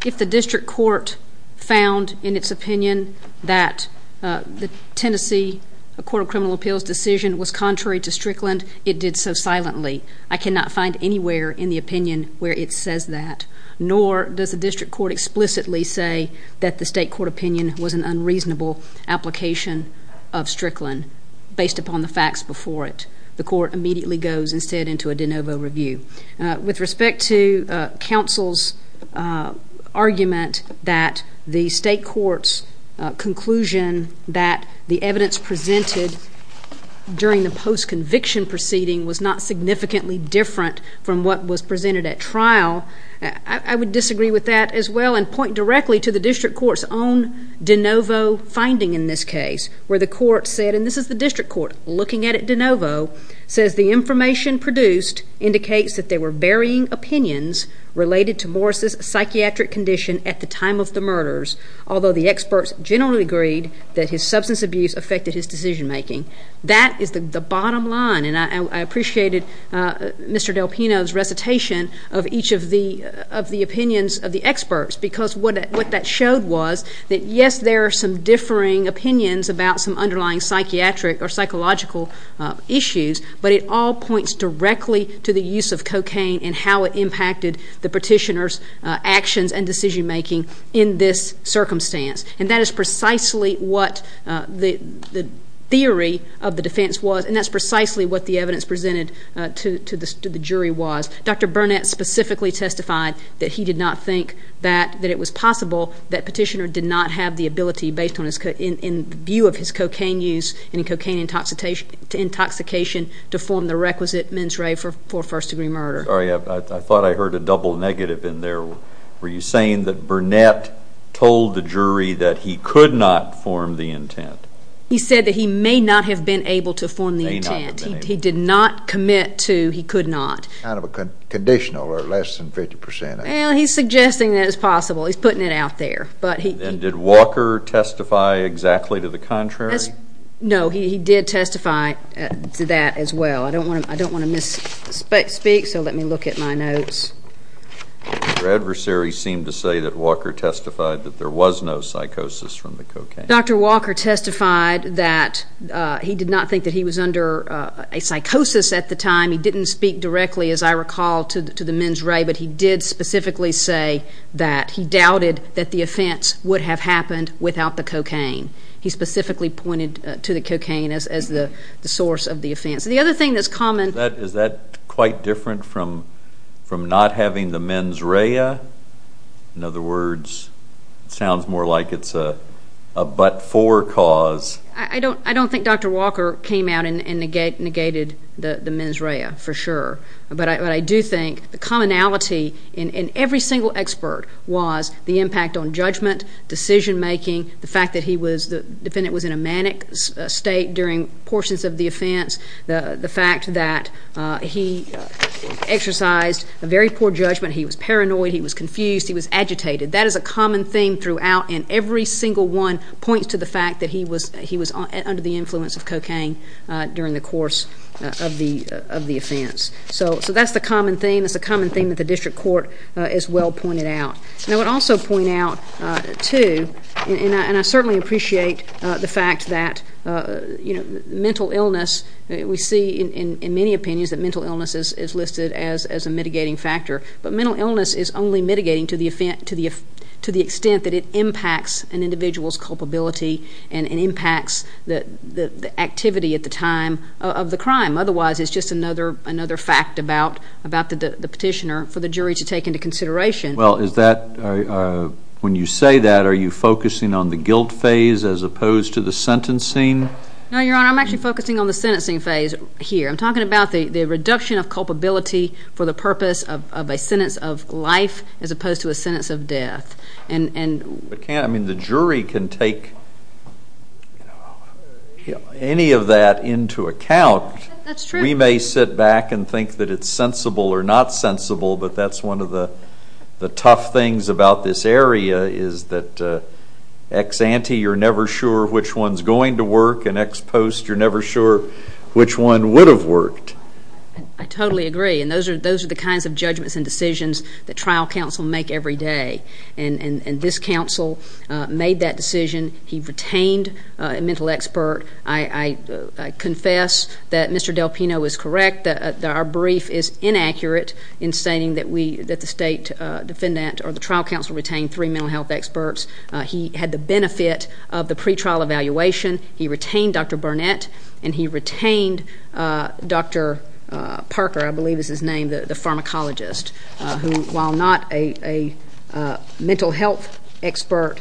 If the district court found in its opinion that the Tennessee Court of Criminal Appeals decision was contrary to Strickland, it did so silently. I cannot find anywhere in the opinion where it says that. Nor does the district court explicitly say that the state court opinion was an unreasonable application of Strickland based upon the facts before it. The court immediately goes instead into a de novo review. With respect to counsel's argument that the state court's conclusion that the evidence presented during the post-conviction proceeding was not significantly different from what was presented at trial, I would disagree with that as well and point directly to the district court's own de novo finding in this case where the court said, and this is the district court looking at it de novo, says the information produced indicates that there were varying opinions related to Morris' psychiatric condition at the time of the murders, although the experts generally agreed that his substance abuse affected his decision making. That is the bottom line, and I appreciated Mr. Del Pino's recitation of each of the opinions of the experts because what that showed was that, yes, there are some differing opinions about some underlying psychiatric or psychological issues, but it all points directly to the use of cocaine and how it impacted the petitioner's actions and decision making in this circumstance. And that is precisely what the theory of the defense was, and that's precisely what the evidence presented to the jury was. Dr. Burnett specifically testified that he did not think that it was possible that petitioner did not have the ability, based on his view of his cocaine use and cocaine intoxication, to form the requisite mens re for first-degree murder. Sorry, I thought I heard a double negative in there. Were you saying that Burnett told the jury that he could not form the intent? He said that he may not have been able to form the intent. May not have been able to. He did not commit to he could not. Kind of a conditional, or less than 50 percent. Well, he's suggesting that it's possible. He's putting it out there. And did Walker testify exactly to the contrary? No, he did testify to that as well. I don't want to misspeak, so let me look at my notes. Your adversary seemed to say that Walker testified that there was no psychosis from the cocaine. Dr. Walker testified that he did not think that he was under a psychosis at the time. He didn't speak directly, as I recall, to the mens re, but he did specifically say that he doubted that the offense would have happened without the cocaine. He specifically pointed to the cocaine as the source of the offense. The other thing that's common. Is that quite different from not having the mens rea? In other words, it sounds more like it's a but-for cause. I don't think Dr. Walker came out and negated the mens rea, for sure. But I do think the commonality in every single expert was the impact on judgment, decision-making, the fact that the defendant was in a manic state during portions of the offense, the fact that he exercised a very poor judgment. He was paranoid. He was confused. He was agitated. That is a common theme throughout, and every single one points to the fact that he was under the influence of cocaine during the course of the offense. So that's the common theme. It's a common theme that the district court as well pointed out. I would also point out, too, and I certainly appreciate the fact that mental illness, we see in many opinions that mental illness is listed as a mitigating factor. But mental illness is only mitigating to the extent that it impacts an individual's culpability and impacts the activity at the time of the crime. Otherwise, it's just another fact about the petitioner for the jury to take into consideration. Well, when you say that, are you focusing on the guilt phase as opposed to the sentencing? No, Your Honor. I'm actually focusing on the sentencing phase here. I'm talking about the reduction of culpability for the purpose of a sentence of life as opposed to a sentence of death. The jury can take any of that into account. That's true. We may sit back and think that it's sensible or not sensible, but that's one of the tough things about this area is that ex-ante, you're never sure which one's going to work, and ex-post, you're never sure which one would have worked. I totally agree. And those are the kinds of judgments and decisions that trial counsel make every day. And this counsel made that decision. He retained a mental expert. I confess that Mr. Del Pino is correct, that our brief is inaccurate in stating that we, that the state defendant or the trial counsel retained three mental health experts. He had the benefit of the pretrial evaluation. He retained Dr. Burnett, and he retained Dr. Parker, I believe is his name, the pharmacologist, who, while not a mental health expert,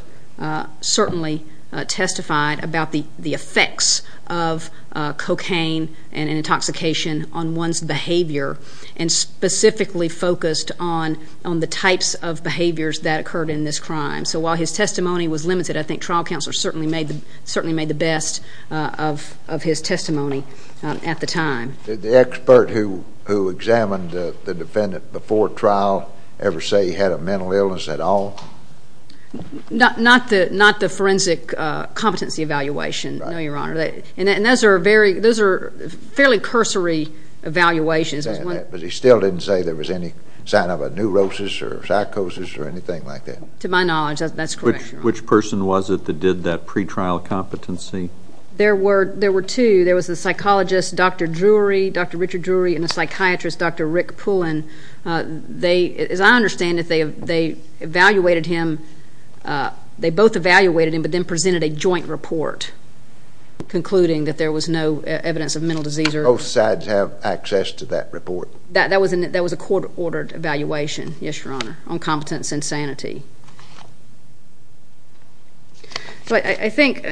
certainly testified about the effects of cocaine and intoxication on one's behavior and specifically focused on the types of behaviors that occurred in this crime. So while his testimony was limited, I think trial counsel certainly made the best of his testimony at the time. Did the expert who examined the defendant before trial ever say he had a mental illness at all? Not the forensic competency evaluation, no, Your Honor. And those are fairly cursory evaluations. But he still didn't say there was any sign of a neurosis or psychosis or anything like that? To my knowledge, that's correct, Your Honor. Which person was it that did that pretrial competency? There were two. There was a psychologist, Dr. Drury, Dr. Richard Drury, and a psychiatrist, Dr. Rick Pullen. They, as I understand it, they evaluated him. They both evaluated him, but then presented a joint report concluding that there was no evidence of mental disease. Both sides have access to that report? That was a court-ordered evaluation, yes, Your Honor, on competence and sanity. I think,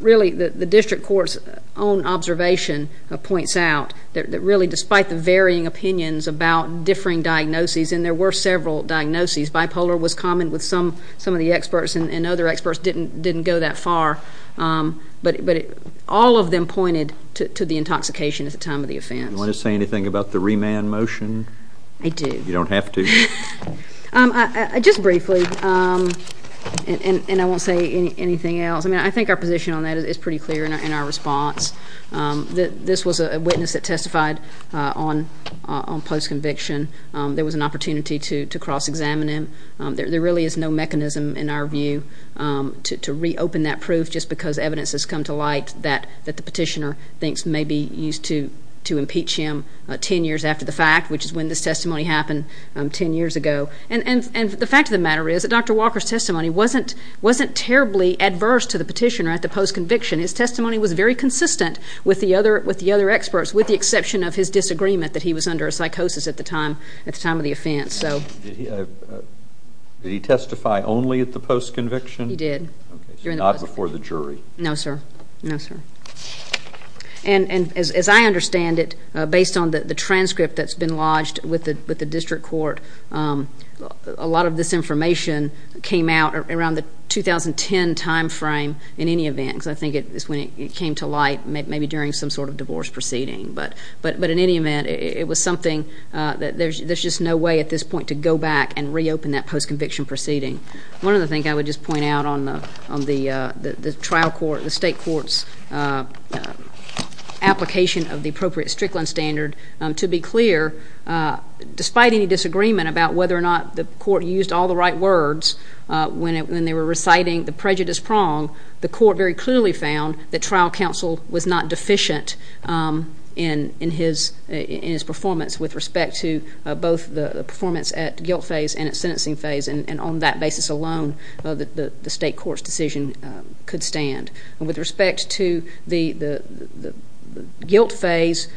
really, the district court's own observation points out that, really, despite the varying opinions about differing diagnoses, and there were several diagnoses, bipolar was common with some of the experts and other experts didn't go that far, but all of them pointed to the intoxication at the time of the offense. Do you want to say anything about the remand motion? I do. You don't have to. Just briefly, and I won't say anything else, I mean, I think our position on that is pretty clear in our response. This was a witness that testified on post-conviction. There was an opportunity to cross-examine him. There really is no mechanism, in our view, to reopen that proof just because evidence has come to light that the petitioner thinks may be used to impeach him 10 years after the fact, which is when this testimony happened 10 years ago. And the fact of the matter is that Dr. Walker's testimony wasn't terribly adverse to the petitioner at the post-conviction. His testimony was very consistent with the other experts, with the exception of his disagreement that he was under a psychosis at the time of the offense. Did he testify only at the post-conviction? He did. Not before the jury? No, sir. And as I understand it, based on the transcript that's been lodged with the district court, a lot of this information came out around the 2010 time frame in any event, because I think it's when it came to light, maybe during some sort of divorce proceeding. But in any event, it was something that there's just no way at this point to go back and reopen that post-conviction proceeding. One other thing I would just point out on the trial court, the state court's application of the appropriate Strickland standard, to be clear, despite any disagreement about whether or not the court used all the right words when they were reciting the prejudice prong, the court very clearly found that trial counsel was not deficient in his performance with respect to both the performance at guilt phase and at sentencing phase. And on that basis alone, the state court's decision could stand. With respect to the guilt phase,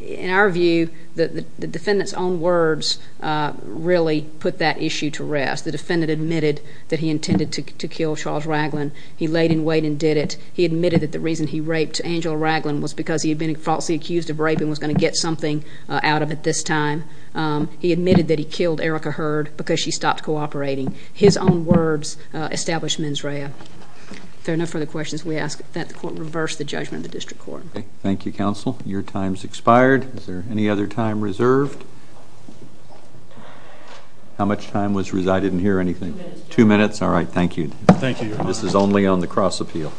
in our view, the defendant's own words really put that issue to rest. The defendant admitted that he intended to kill Charles Raglin. He laid in wait and did it. He admitted that the reason he raped Angela Raglin was because he had been falsely accused of raping and was going to get something out of it this time. He admitted that he killed Erica Hurd because she stopped cooperating. His own words established mens rea. If there are no further questions, we ask that the court reverse the judgment of the district court. Thank you, counsel. Your time's expired. Is there any other time reserved? How much time was resided in here, or anything? Two minutes. Two minutes? All right, thank you. Thank you, Your Honor. This is only on the cross appeal.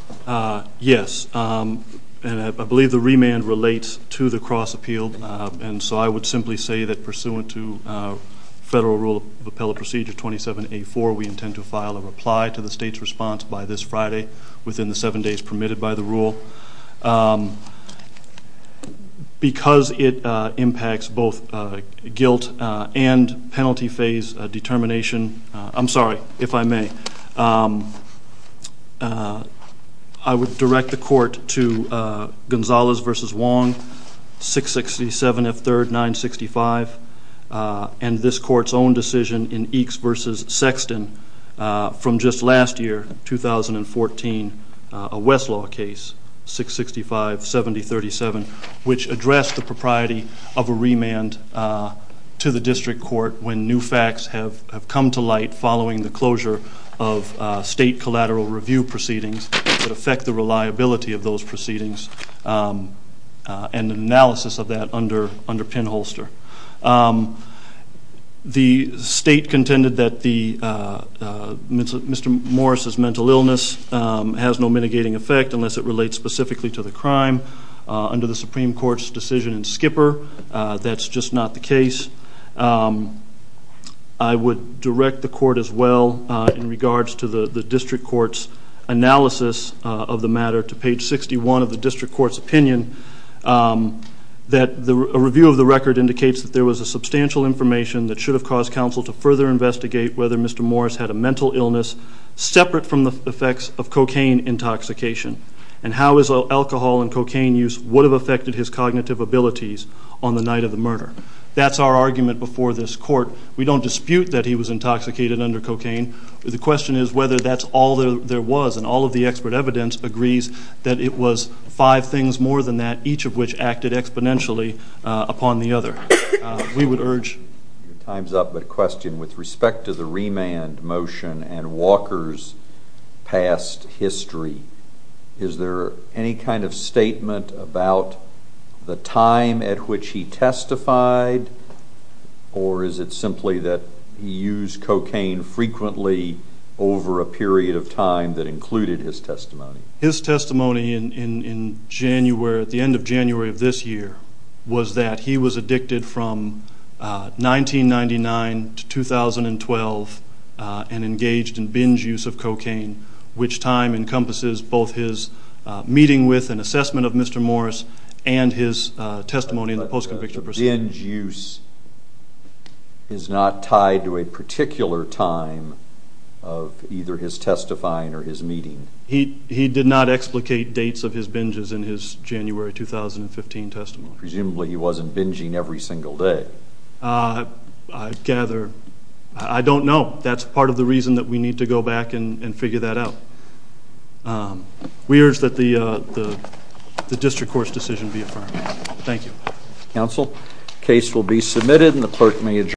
Yes, and I believe the remand relates to the cross appeal, and so I would simply say that pursuant to Federal Rule of Appellate Procedure 27A4, we intend to file a reply to the state's response by this Friday within the seven days permitted by the rule. Because it impacts both guilt and penalty phase determination, I'm sorry, if I may, I would direct the court to Gonzales v. Wong, 667 F. 3rd, 965, and this court's own decision in Eakes v. Sexton from just last year, 2014, a Westlaw case, 665-7037, which addressed the propriety of a remand to the district court when new facts have come to light following the closure of state collateral review proceedings that affect the reliability of those proceedings and an analysis of that under pinholster. The state contended that Mr. Morris's mental illness has no mitigating effect unless it relates specifically to the crime. Under the Supreme Court's decision in Skipper, that's just not the case. I would direct the court as well in regards to the district court's analysis of the matter to page 61 of the district court's opinion that a review of the record indicates that there was a substantial information that should have caused counsel to further investigate whether Mr. Morris had a mental illness separate from the effects of cocaine intoxication and how his alcohol and cocaine use would have affected his cognitive abilities on the night of the murder. That's our argument before this court. We don't dispute that he was intoxicated under cocaine. The question is whether that's all there was, and all of the expert evidence agrees that it was five things more than that, each of which acted exponentially upon the other. We would urge... Time's up, but a question with respect to the remand motion and Walker's past history. Is there any kind of statement about the time at which he testified, or is it simply that he used cocaine frequently over a period of time that included his testimony? His testimony at the end of January of this year was that he was addicted from 1999 to 2012 and engaged in binge use of cocaine, which time encompasses both his meeting with and assessment of Mr. Morris and his testimony in the post-conviction proceeding. But the binge use is not tied to a particular time of either his testifying or his meeting. He did not explicate dates of his binges in his January 2015 testimony. Presumably he wasn't binging every single day. I gather... I don't know. That's part of the reason that we need to go back and figure that out. We urge that the district court's decision be affirmed. Thank you. Counsel, case will be submitted and the clerk may adjourn.